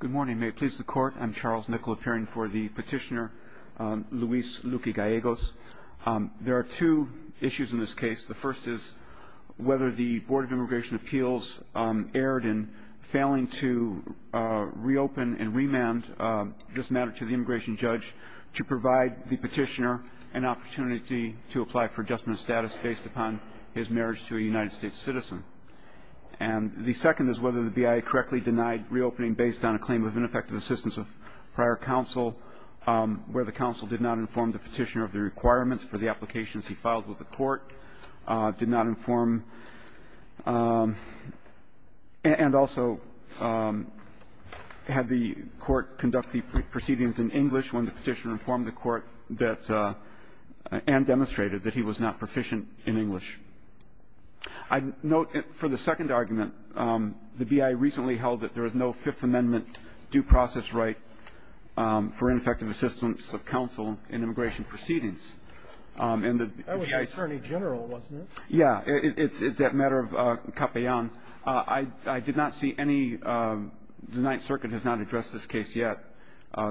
Good morning. May it please the Court, I'm Charles Nickel appearing for the petitioner Luis Luque-Gallegos. There are two issues in this case. The first is whether the Board of Immigration Appeals erred in failing to reopen and remand this matter to the immigration judge to provide the petitioner an opportunity to apply for adjustment of status based upon his marriage to a United States citizen. And the second is whether the BIA correctly denied reopening based on a claim of ineffective assistance of prior counsel, where the counsel did not inform the petitioner of the requirements for the applications he filed with the court, did not inform and also had the court conduct the proceedings in English when the petitioner informed the court that and demonstrated that he was not proficient in English. I note for the second argument, the BIA recently held that there is no Fifth Amendment due process right for ineffective assistance of counsel in immigration proceedings. And the BIA's That was for a attorney general, wasn't it? Yeah. It's that matter of capayán. I did not see any. The Ninth Circuit has not addressed this case yet.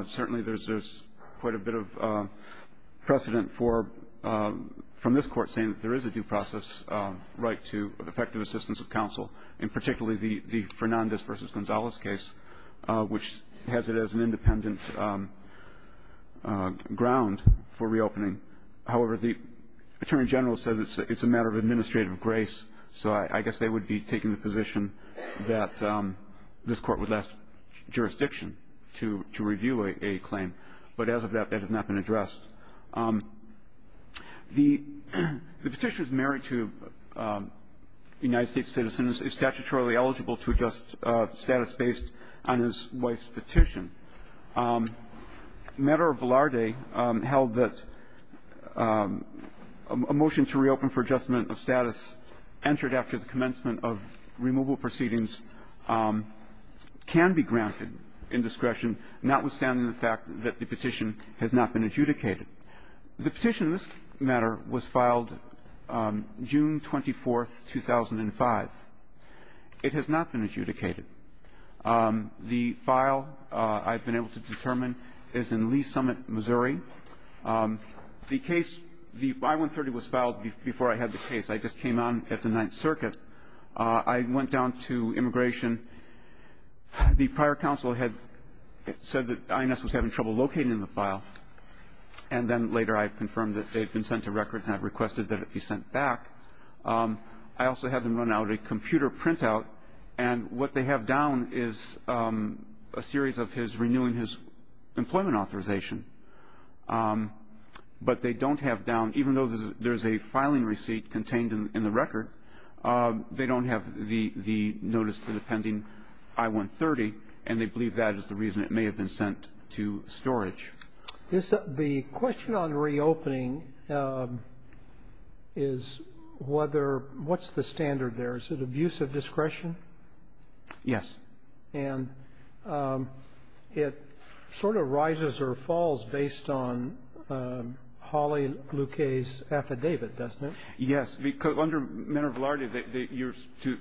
Certainly there's there's quite a bit of precedent for from this court saying that there is a due process right to effective assistance of counsel in particularly the Fernandez versus Gonzalez case, which has it as an independent ground for reopening. However, the attorney general said it's a matter of administrative grace. So I guess they would be taking the position that this court would last jurisdiction to review a claim. But as of that, that has not been addressed. The petitioner is married to United States citizens, is statutorily eligible to adjust status based on his wife's petition. The matter of Velarde held that a motion to reopen for adjustment of status entered after the commencement of removal proceedings can be granted in discretion, notwithstanding the fact that the petition has not been adjudicated. The petition in this matter was filed June 24th, 2005. It has not been adjudicated. The file I've been able to determine is in Lee Summit, Missouri. The case, the I-130 was filed before I had the case. I just came on at the Ninth Circuit. I went down to immigration. The prior counsel had said that INS was having trouble locating the file. And then later I confirmed that they had been sent to records and I requested that it be sent back. I also had them run out a computer printout. And what they have down is a series of his renewing his employment authorization. But they don't have down, even though there's a filing receipt contained in the record, they don't have the notice for the pending I-130. And they believe that is the reason it may have been sent to storage. The question on reopening is whether what's the standard there? Is it abuse of discretion? Yes. And it sort of rises or falls based on Hawley-Luquet's affidavit, doesn't it? Yes. Under Manner of Law, you're to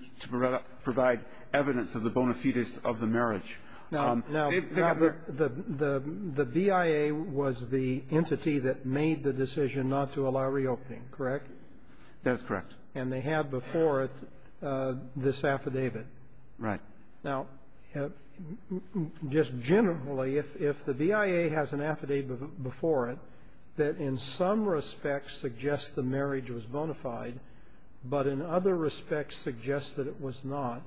provide evidence of the bona fides of the marriage. Now, the BIA was the entity that made the decision not to allow reopening, correct? That's correct. And they had before it this affidavit. Right. Now, just generally, if the BIA has an affidavit before it that in some respects suggests the marriage was bona fide, but in other respects suggests that it was not,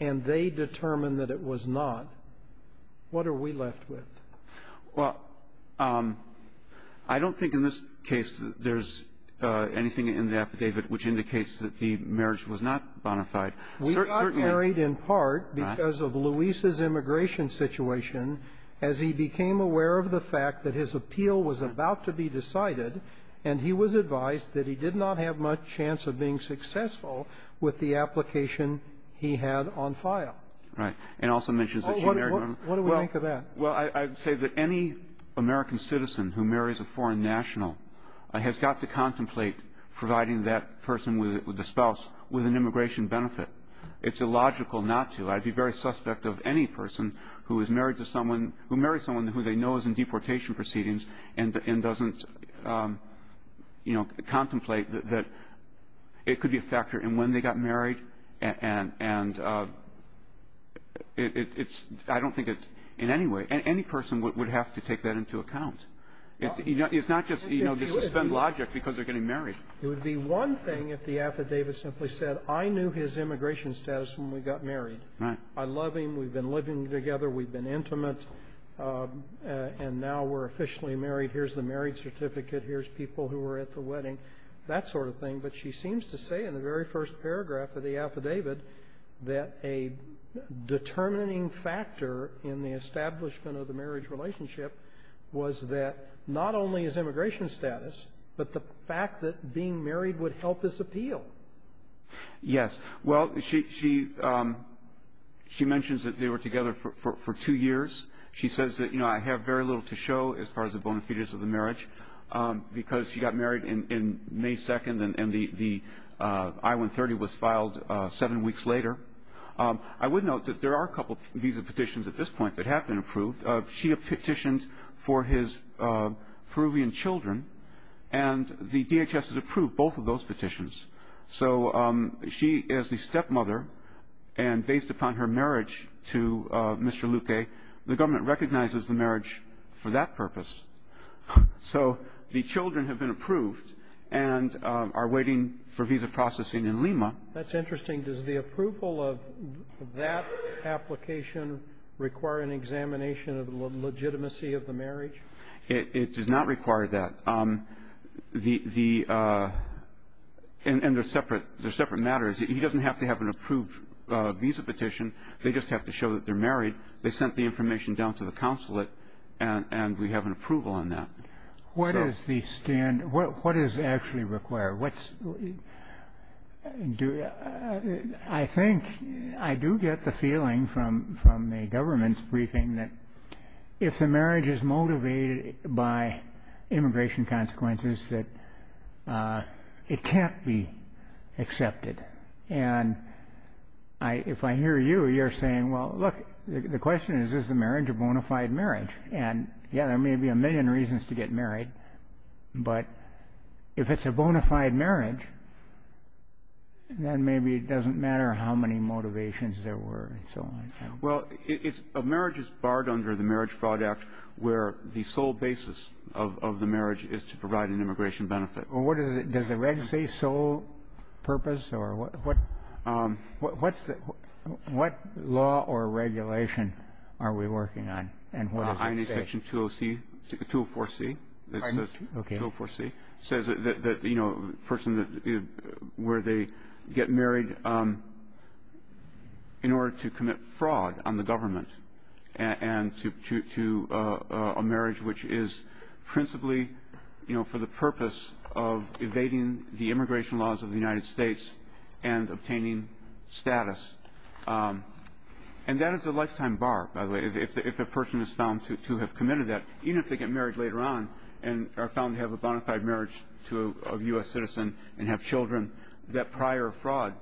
and they determined that it was not, what are we left with? Well, I don't think in this case there's anything in the affidavit which indicates that the marriage was not bona fide. We got married in part because of Luis's immigration situation, as he became aware of the fact that his appeal was about to be decided, and he was advised that he did not have much chance of being successful with the application he had on file. Right. And also mentions that she married one of them. What do we think of that? Well, I'd say that any American citizen who marries a foreign national has got to contemplate providing that person with a spouse with an immigration benefit. It's illogical not to. I'd be very suspect of any person who is married to someone who marries someone who they know is in deportation proceedings and doesn't, you know, contemplate that it could be a factor in when they got married, and it's – I don't think it's in any way – any person would have to take that into account. It's not just, you know, the suspend logic because they're getting married. It would be one thing if the affidavit simply said, I knew his immigration status when we got married. Right. I love him. We've been living together. We've been intimate. And now we're officially married. Here's the marriage certificate. Here's people who were at the wedding. That sort of thing. But she seems to say in the very first paragraph of the affidavit that a determining factor in the establishment of the marriage relationship was that not only his immigration status, but the fact that being married would help his appeal. Yes. Well, she mentions that they were together for two years. She says that, you know, I have very little to show as far as the bona fides of the marriage because she got married in May 2nd, and the I-130 was filed seven weeks later. I would note that there are a couple of visa petitions at this point that have been approved. She petitioned for his Peruvian children, and the DHS has approved both of those petitions. So she is the stepmother, and based upon her marriage to Mr. Luque, the government recognizes the marriage for that purpose. So the children have been approved and are waiting for visa processing in Lima. That's interesting. Does the approval of that application require an examination of the legitimacy of the marriage? It does not require that. And they're separate matters. He doesn't have to have an approved visa petition. They just have to show that they're married. They sent the information down to the consulate, and we have an approval on that. What is the standard? What does it actually require? I think I do get the feeling from the government's briefing that if the marriage is motivated by immigration consequences, that it can't be accepted. And if I hear you, you're saying, well, look, the question is, is the marriage a bona fide marriage? And, yeah, there may be a million reasons to get married, but if it's a bona fide marriage, then maybe it doesn't matter how many motivations there were and so on. Well, a marriage is barred under the Marriage Fraud Act where the sole basis of the marriage is to provide an immigration benefit. Well, what does it say, sole purpose? What law or regulation are we working on, and what does it say? INA Section 204C. Pardon? Okay. Section 204C says that, you know, a person where they get married in order to commit fraud on the government and to a marriage which is principally, you know, for the purpose of evading the immigration laws of the United States and obtaining status. And that is a lifetime bar, by the way, if a person is found to have committed that, even if they get married later on and are found to have a bona fide marriage of a U.S. citizen and have children, that prior fraud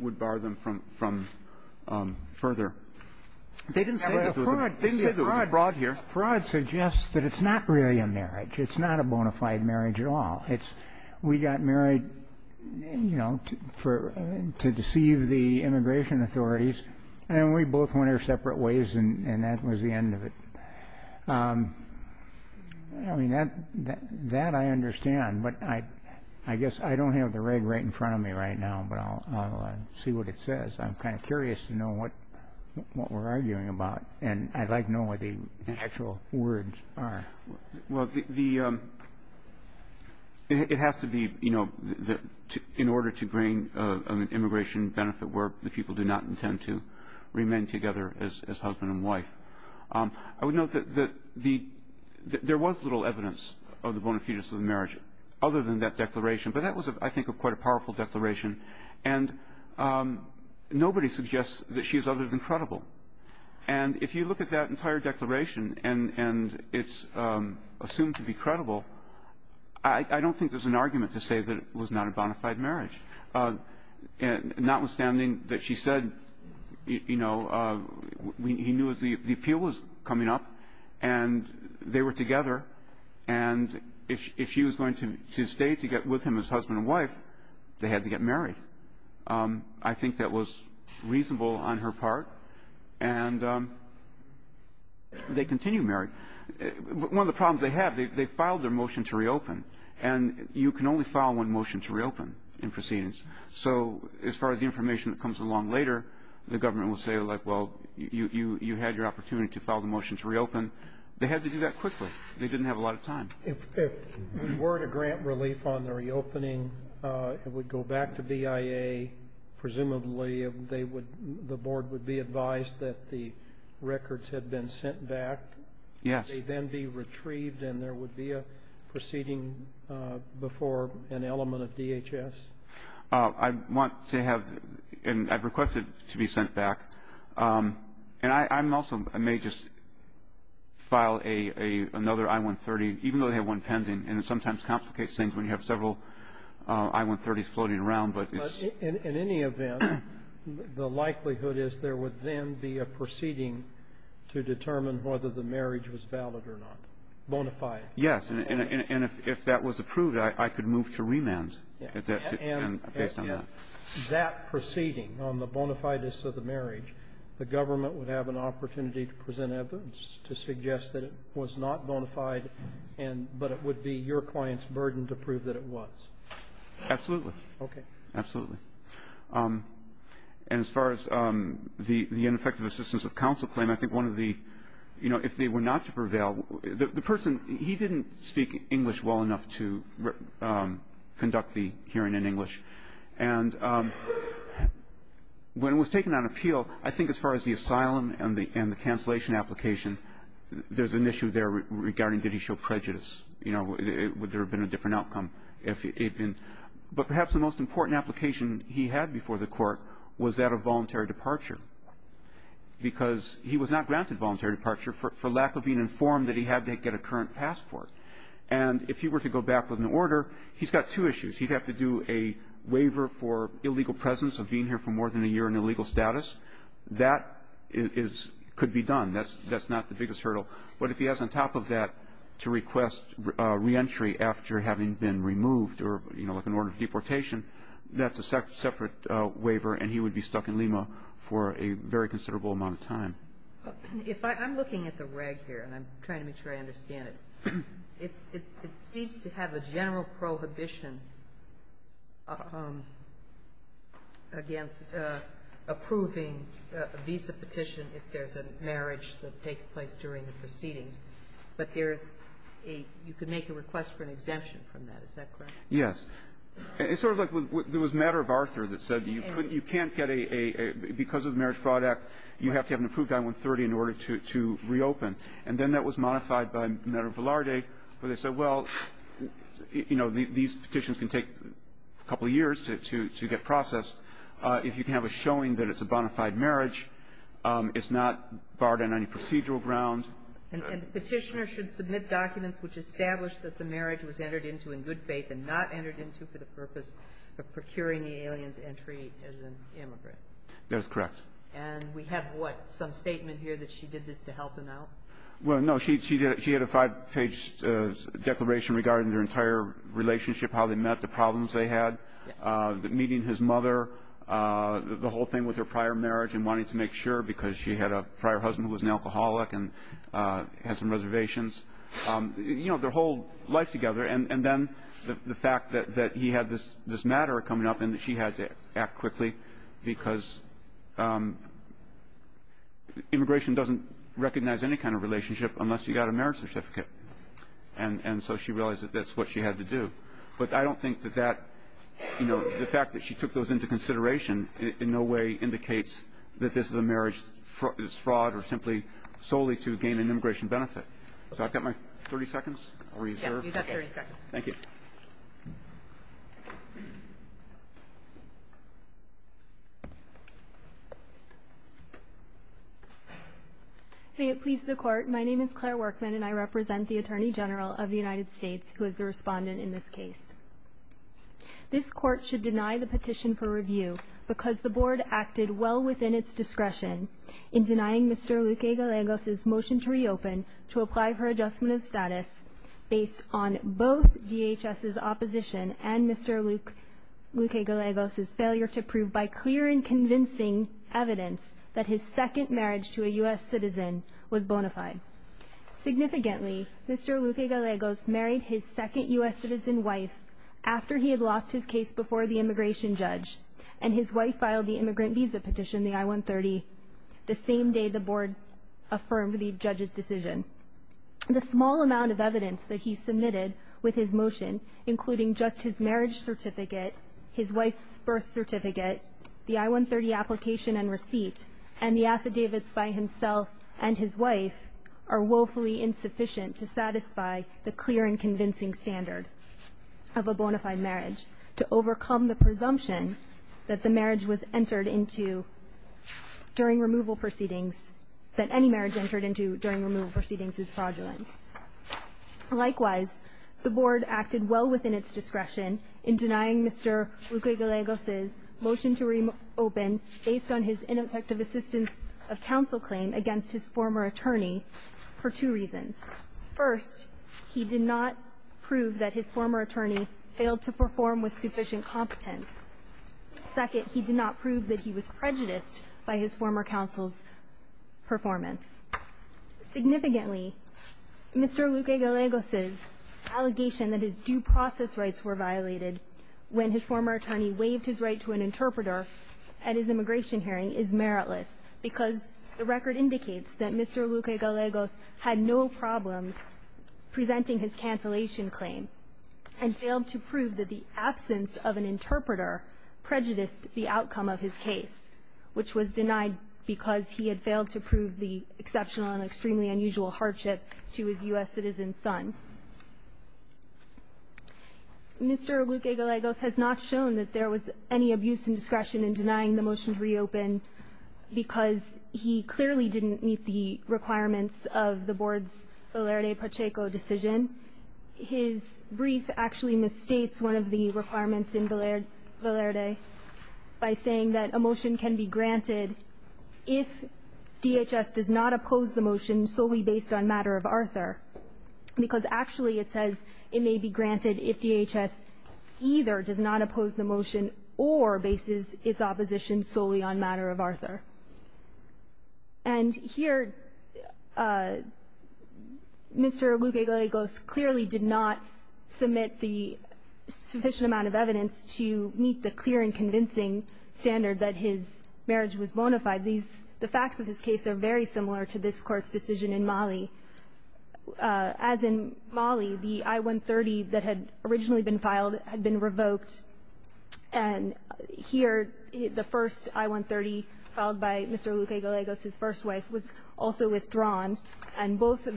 would bar them from further. They didn't say there was a fraud here. Fraud suggests that it's not really a marriage. It's not a bona fide marriage at all. It's we got married, you know, to deceive the immigration authorities, and we both went our separate ways, and that was the end of it. I mean, that I understand. But I guess I don't have the reg right in front of me right now, but I'll see what it says. I'm kind of curious to know what we're arguing about, and I'd like to know what the actual words are. Well, it has to be, you know, in order to gain an immigration benefit where the people do not intend to remain together as husband and wife. I would note that there was little evidence of the bona fides of the marriage other than that declaration, but that was, I think, quite a powerful declaration, and nobody suggests that she is other than credible. And if you look at that entire declaration and it's assumed to be credible, I don't think there's an argument to say that it was not a bona fide marriage, notwithstanding that she said, you know, he knew the appeal was coming up, and they were together, and if she was going to stay to get with him as husband and wife, they had to get married. I think that was reasonable on her part, and they continue married. One of the problems they have, they filed their motion to reopen, and you can only file one motion to reopen in proceedings. So as far as the information that comes along later, the government will say, like, well, you had your opportunity to file the motion to reopen. They had to do that quickly. They didn't have a lot of time. If we were to grant relief on the reopening, it would go back to BIA. Presumably the board would be advised that the records had been sent back. Yes. Would they then be retrieved and there would be a proceeding before an element of DHS? I want to have and I've requested to be sent back. And I also may just file another I-130, even though they have one pending, and it sometimes complicates things when you have several I-130s floating around. But in any event, the likelihood is there would then be a proceeding to determine whether the marriage was valid or not, bona fide. Yes. And if that was approved, I could move to remand based on that. And that proceeding on the bona fides of the marriage, the government would have an opportunity to present evidence to suggest that it was not bona fide, but it would be your client's burden to prove that it was. Absolutely. Okay. Absolutely. And as far as the ineffective assistance of counsel claim, I think one of the, you know, if they were not to prevail, the person, he didn't speak English well enough to conduct the hearing in English. And when it was taken on appeal, I think as far as the asylum and the cancellation application, there's an issue there regarding did he show prejudice. You know, would there have been a different outcome if it had been. But perhaps the most important application he had before the court was that of voluntary departure, because he was not granted voluntary departure for lack of being informed that he had to get a current passport. And if he were to go back with an order, he's got two issues. He'd have to do a waiver for illegal presence of being here for more than a year and illegal status. That is – could be done. That's not the biggest hurdle. But if he has on top of that to request reentry after having been removed or, you know, like an order of deportation, that's a separate waiver, and he would be stuck in Lima for a very considerable amount of time. If I'm looking at the reg here, and I'm trying to make sure I understand it, it seems to have a general prohibition against approving a visa petition if there's a marriage that takes place during the proceedings. But there's a – you could make a request for an exemption from that. Is that correct? Yes. It's sort of like there was a matter of Arthur that said you couldn't – you can't get a – because of the Marriage Fraud Act, you have to have an approved I-130 in order to reopen. And then that was modified by a matter of Velarde where they said, well, you know, these petitions can take a couple of years to get processed. If you can have a showing that it's a bona fide marriage, it's not barred on any procedural grounds. And the Petitioner should submit documents which establish that the marriage was entered into in good faith and not entered into for the purpose of procuring the alien's entry as an immigrant. That is correct. And we have what? Some statement here that she did this to help him out? Well, no. She had a five-page declaration regarding their entire relationship, how they met, the problems they had, meeting his mother, the whole thing with her prior marriage and wanting to make sure because she had a prior husband who was an alcoholic and had some reservations. You know, their whole life together. And then the fact that he had this matter coming up and that she had to act quickly because immigration doesn't recognize any kind of relationship unless you got a marriage certificate. And so she realized that that's what she had to do. But I don't think that that, you know, the fact that she took those into consideration in no way indicates that this is a marriage that's fraud or simply solely to gain an immigration benefit. So I've got my 30 seconds reserved. Yeah, you've got 30 seconds. Thank you. May it please the Court. My name is Claire Workman and I represent the Attorney General of the United States who is the respondent in this case. This Court should deny the petition for review because the Board acted well within its capacity to apply for adjustment of status based on both DHS's opposition and Mr. Luque-Galegos's failure to prove by clear and convincing evidence that his second marriage to a U.S. citizen was bona fide. Significantly, Mr. Luque-Galegos married his second U.S. citizen wife after he had lost his case before the immigration judge, and his wife filed the immigrant visa petition, the I-130, the same day the Board affirmed the judge's decision. The small amount of evidence that he submitted with his motion, including just his marriage certificate, his wife's birth certificate, the I-130 application and receipt, and the affidavits by himself and his wife, are woefully insufficient to satisfy the clear and convincing standard of a bona fide marriage to overcome the presumption that the marriage was entered into during removal proceedings that any marriage entered into during removal proceedings is fraudulent. Likewise, the Board acted well within its discretion in denying Mr. Luque-Galegos's motion to reopen based on his ineffective assistance of counsel claim against his former attorney for two reasons. First, he did not prove that his former attorney failed to perform with sufficient competence. Second, he did not prove that he was prejudiced by his former counsel's performance. Significantly, Mr. Luque-Galegos's allegation that his due process rights were violated when his former attorney waived his right to an interpreter at his immigration hearing is meritless because the record indicates that Mr. Luque-Galegos had no problems presenting his cancellation claim and failed to prove that the absence of an interpreter prejudiced the outcome of his case, which was denied because he had failed to prove the exceptional and extremely unusual hardship to his U.S. citizen son. Mr. Luque-Galegos has not shown that there was any abuse in discretion in denying the motion to reopen because he clearly didn't meet the requirements of the Board's Valerde-Pacheco decision. His brief actually misstates one of the requirements in Valerde by saying that a motion can be granted if DHS does not oppose the motion solely based on matter of Arthur. Because actually it says it may be granted if DHS either does not oppose the motion or bases its opposition solely on matter of Arthur. And here Mr. Luque-Galegos clearly did not submit the sufficient amount of evidence to meet the clear and convincing standard that his marriage was bona fide. The facts of his case are very similar to this Court's decision in Mali. As in Mali, the I-130 that had originally been filed had been revoked. And here the first I-130 filed by Mr. Luque-Galegos, his first wife, was also withdrawn. And both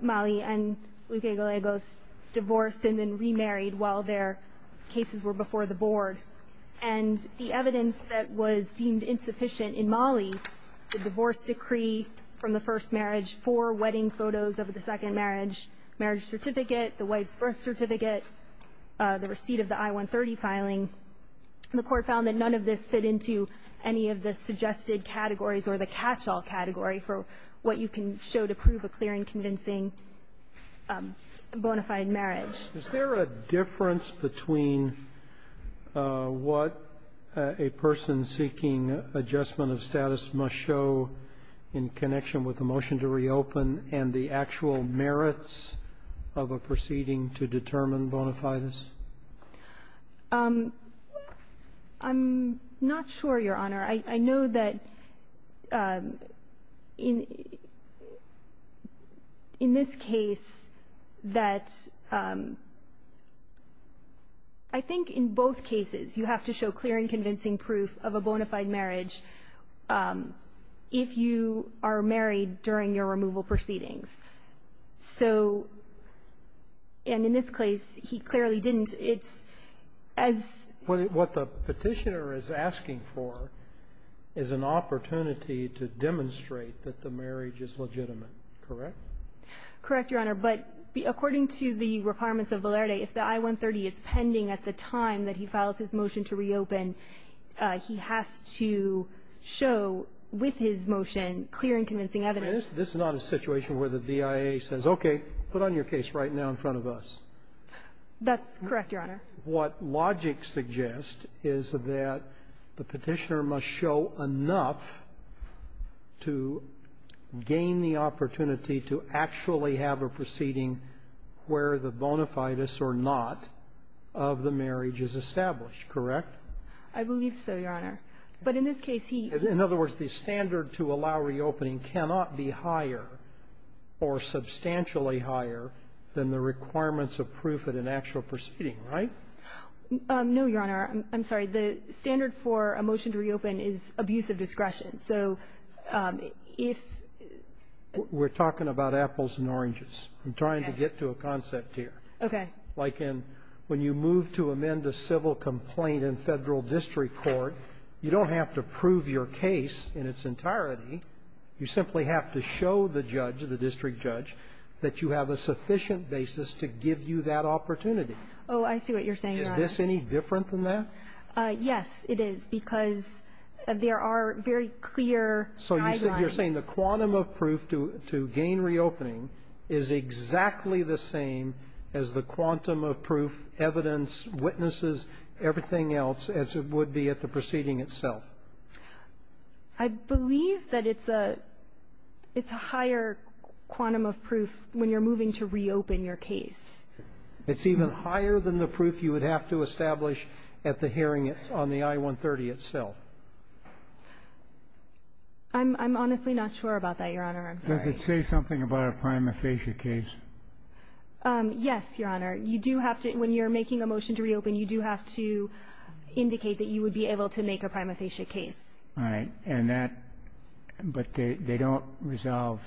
Mali and Luque-Galegos divorced and then remarried while their cases were before the Board. And the evidence that was deemed insufficient in Mali, the divorce decree from the first marriage, four wedding photos of the second marriage, marriage certificate, the wife's birth certificate, the receipt of the I-130 filing, the Court found that none of this fit into any of the suggested categories or the catch-all category for what you can show to prove a clear and convincing bona fide marriage. Roberts. Is there a difference between what a person seeking adjustment of status must show in connection with the motion to reopen and the actual merits of a proceeding to determine bona fides? I'm not sure, Your Honor. I know that in this case that I think in both cases you have to show clear and convincing proof of a bona fide marriage if you are married during your removal proceedings. So, and in this case, he clearly didn't. It's as ---- So what the petitioner is asking for is an opportunity to demonstrate that the marriage is legitimate, correct? Correct, Your Honor. But according to the requirements of Valerde, if the I-130 is pending at the time that he files his motion to reopen, he has to show with his motion clear and convincing evidence. This is not a situation where the BIA says, okay, put on your case right now in front of us. That's correct, Your Honor. What logic suggests is that the petitioner must show enough to gain the opportunity to actually have a proceeding where the bona fides or not of the marriage is established, correct? I believe so, Your Honor. But in this case, he ---- In other words, the standard to allow reopening cannot be higher or substantially higher than the requirements of proof at an actual proceeding, right? No, Your Honor. I'm sorry. The standard for a motion to reopen is abuse of discretion. So if ---- We're talking about apples and oranges. Okay. I'm trying to get to a concept here. Okay. Like in when you move to amend a civil complaint in Federal district court, you don't have to prove your case in its entirety. You simply have to show the judge, the district judge, that you have a sufficient basis to give you that opportunity. Oh, I see what you're saying, Your Honor. Is this any different than that? Yes, it is, because there are very clear guidelines. So you're saying the quantum of proof to gain reopening is exactly the same as the quantum of proof, evidence, witnesses, everything else, as it would be at the proceeding itself? I believe that it's a higher quantum of proof when you're moving to reopen your case. It's even higher than the proof you would have to establish at the hearing on the I-130 itself? I'm honestly not sure about that, Your Honor. I'm sorry. Does it say something about a prima facie case? Yes, Your Honor. You do have to ---- When you're making a motion to reopen, you do have to indicate that you would be able to make a prima facie case. All right. And that ---- But they don't resolve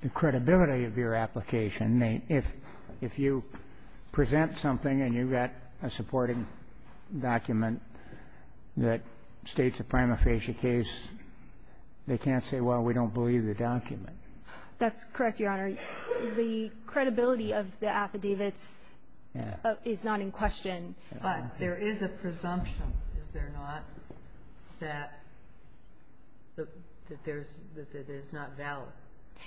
the credibility of your application. If you present something and you've got a supporting document that states a prima facie case, they can't say, well, we don't believe the document. That's correct, Your Honor. The credibility of the affidavits is not in question. But there is a presumption, is there not, that there's not valid?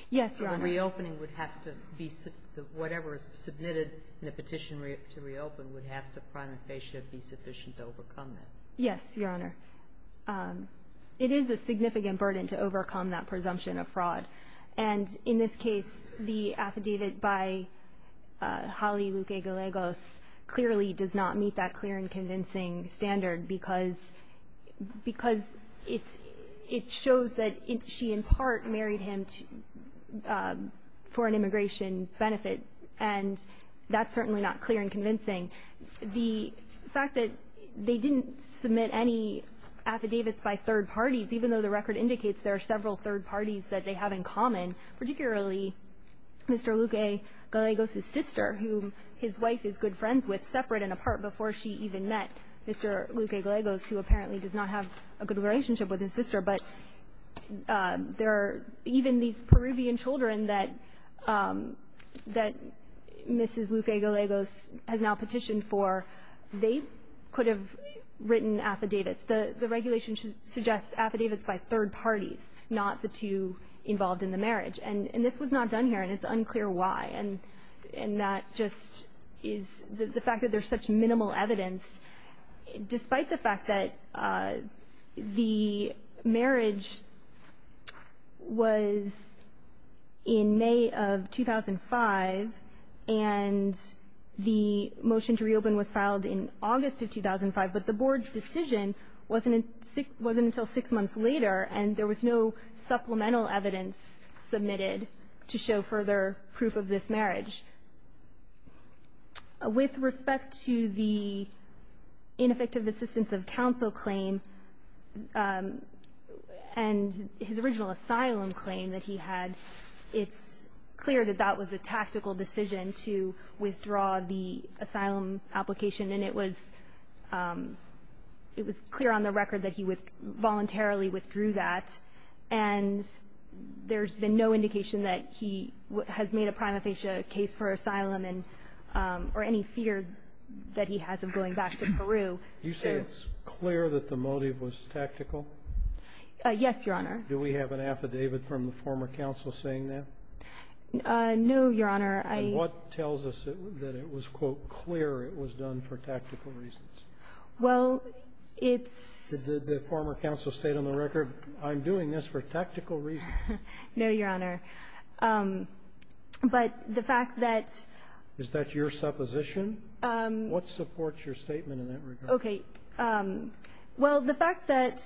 Yes, Your Honor. So the reopening would have to be ---- Whatever is submitted in the petition to reopen would have to prima facie be sufficient to overcome that? Yes, Your Honor. It is a significant burden to overcome that presumption of fraud. And in this case, the affidavit by Holly Luque-Galegos clearly does not meet that clear and convincing standard because it shows that she in part married him for an immigration benefit. And that's certainly not clear and convincing. The fact that they didn't submit any affidavits by third parties, even though the record indicates there are several third parties that they have in common, particularly Mr. Luque-Galegos's sister, who his wife is good friends with, separate and apart before she even met Mr. Luque-Galegos, who apparently does not have a good relationship with his sister. But there are even these Peruvian children that Mrs. Luque-Galegos has now petitioned for, they could have written affidavits. The regulation suggests affidavits by third parties, not the two involved in the marriage. And this was not done here, and it's unclear why. And that just is the fact that there's such minimal evidence. Despite the fact that the marriage was in May of 2005, and the motion to reopen was wasn't until six months later, and there was no supplemental evidence submitted to show further proof of this marriage. With respect to the ineffective assistance of counsel claim and his original asylum claim that he had, it's clear that that was a tactical decision to withdraw the asylum application. And it was clear on the record that he voluntarily withdrew that. And there's been no indication that he has made a prima facie case for asylum or any fear that he has of going back to Peru. So you say it's clear that the motive was tactical? Yes, Your Honor. Do we have an affidavit from the former counsel saying that? No, Your Honor. And what tells us that it was, quote, clear it was done for tactical reasons? Well, it's the former counsel stated on the record, I'm doing this for tactical reasons. No, Your Honor. But the fact that Is that your supposition? What supports your statement in that regard? Okay. Well, the fact that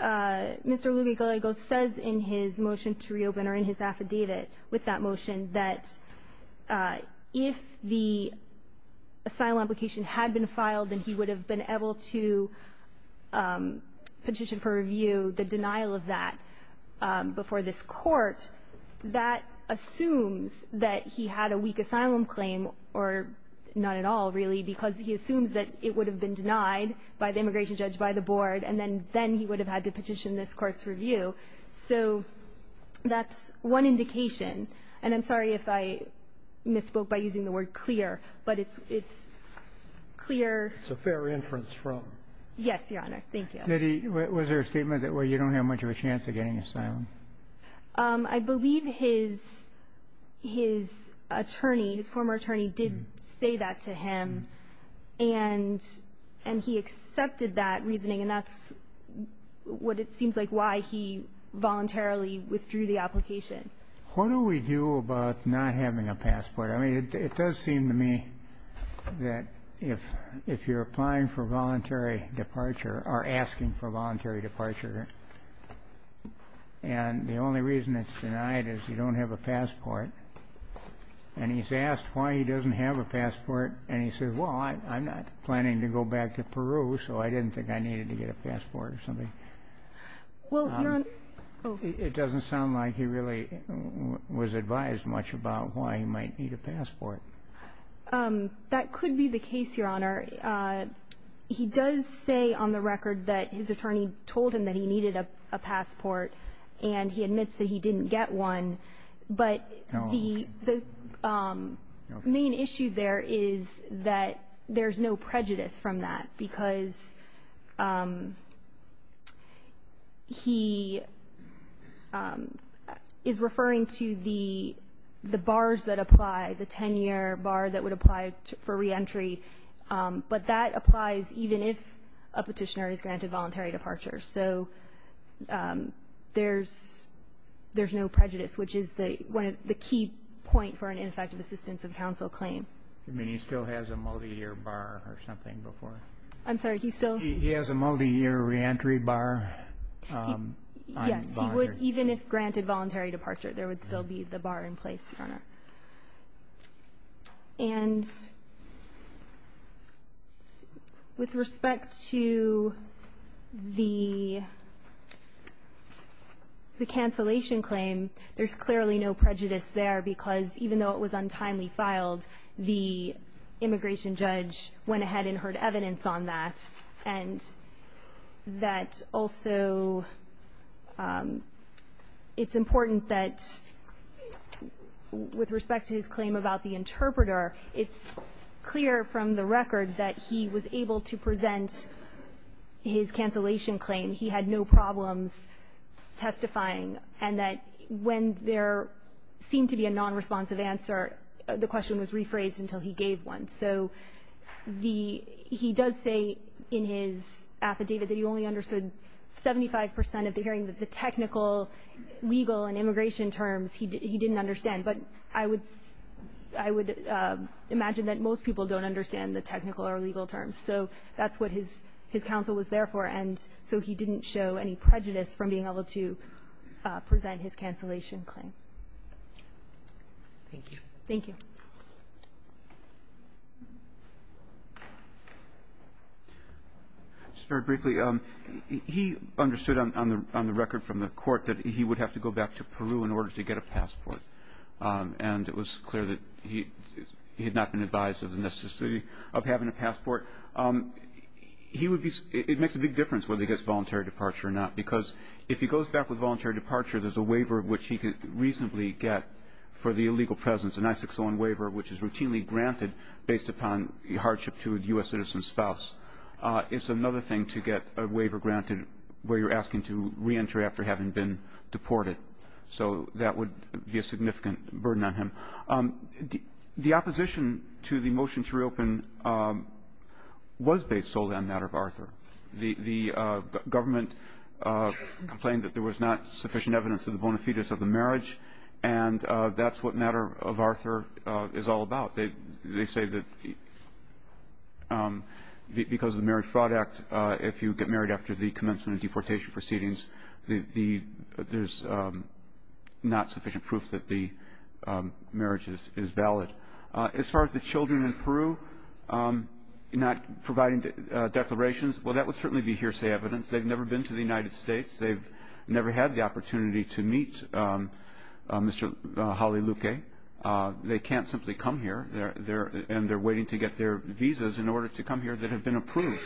Mr. Lugui-Colego says in his motion to reopen or in his affidavit with that motion that if the asylum application had been filed, then he would have been able to petition for review the denial of that before this court, that assumes that he had a weak asylum claim or not at all, really, because he assumes that it would have been denied by the immigration judge, by the board, and then he would have had to petition this court's review. So that's one indication. And I'm sorry if I misspoke by using the word clear, but it's clear. It's a fair inference from. Yes, Your Honor. Thank you. Was there a statement that, well, you don't have much of a chance of getting asylum? I believe his attorney, his former attorney, did say that to him, and he accepted that he voluntarily withdrew the application. What do we do about not having a passport? I mean, it does seem to me that if you're applying for voluntary departure or asking for voluntary departure, and the only reason it's denied is you don't have a passport, and he's asked why he doesn't have a passport, and he says, well, I'm not planning to go back to Peru, so I didn't think I needed to get a passport or something. It doesn't sound like he really was advised much about why he might need a passport. That could be the case, Your Honor. He does say on the record that his attorney told him that he needed a passport, and he admits that he didn't get one, but the main issue there is that there's no prejudice from that because he is referring to the bars that apply, the 10-year bar that would apply for reentry, but that applies even if a petitioner is granted voluntary departure. So there's no prejudice, which is the key point for an ineffective assistance of counsel claim. You mean he still has a multi-year bar or something before? I'm sorry, he still... He has a multi-year reentry bar? Yes, even if granted voluntary departure, there would still be the bar in place, Your Honor. And with respect to the cancellation claim, there's clearly no prejudice there because even though it was untimely filed, the immigration judge went ahead and heard evidence on that, and that also it's important that with respect to his claim about the interpreter, it's clear from the record that he was able to present his cancellation claim. He had no problems testifying, and that when there seemed to be a non-responsive answer, the question was rephrased until he gave one. So he does say in his affidavit that he only understood 75% of the hearing, the technical, legal, and immigration terms he didn't understand, but I would imagine that most people don't understand the technical or legal terms, so that's what his counsel was there for, and so he didn't show any prejudice from being able to present his cancellation claim. Thank you. Thank you. Just very briefly, he understood on the record from the court that he would have to go back to Peru in order to get a passport, and it was clear that he had not been advised of the necessity of having a passport. It makes a big difference whether he gets voluntary departure or not, because if he goes back with voluntary departure, there's a waiver which he can reasonably get for the illegal presence, an I-601 waiver, which is routinely granted based upon hardship to a U.S. citizen's spouse. It's another thing to get a waiver granted where you're asking to reenter after having been deported, so that would be a significant burden on him. The opposition to the motion to reopen was based solely on the matter of Arthur. The government complained that there was not sufficient evidence of the bona fides of the marriage, and that's what the matter of Arthur is all about. They say that because of the Marriage Fraud Act, if you get married after the commencement of deportation proceedings, there's not sufficient proof that the marriage is valid. As far as the children in Peru not providing declarations, well, that would certainly be hearsay evidence. They've never been to the United States. They've never had the opportunity to meet Mr. Jaliluque. They can't simply come here, and they're waiting to get their visas in order to come here that have been approved.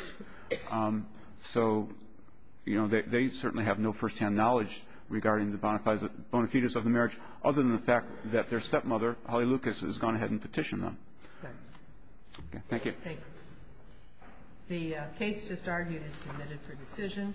So they certainly have no firsthand knowledge regarding the bona fides of the marriage, other than the fact that their stepmother, Jaliluque, has gone ahead and petitioned them. Thank you. Thank you. The case just argued is submitted for decision.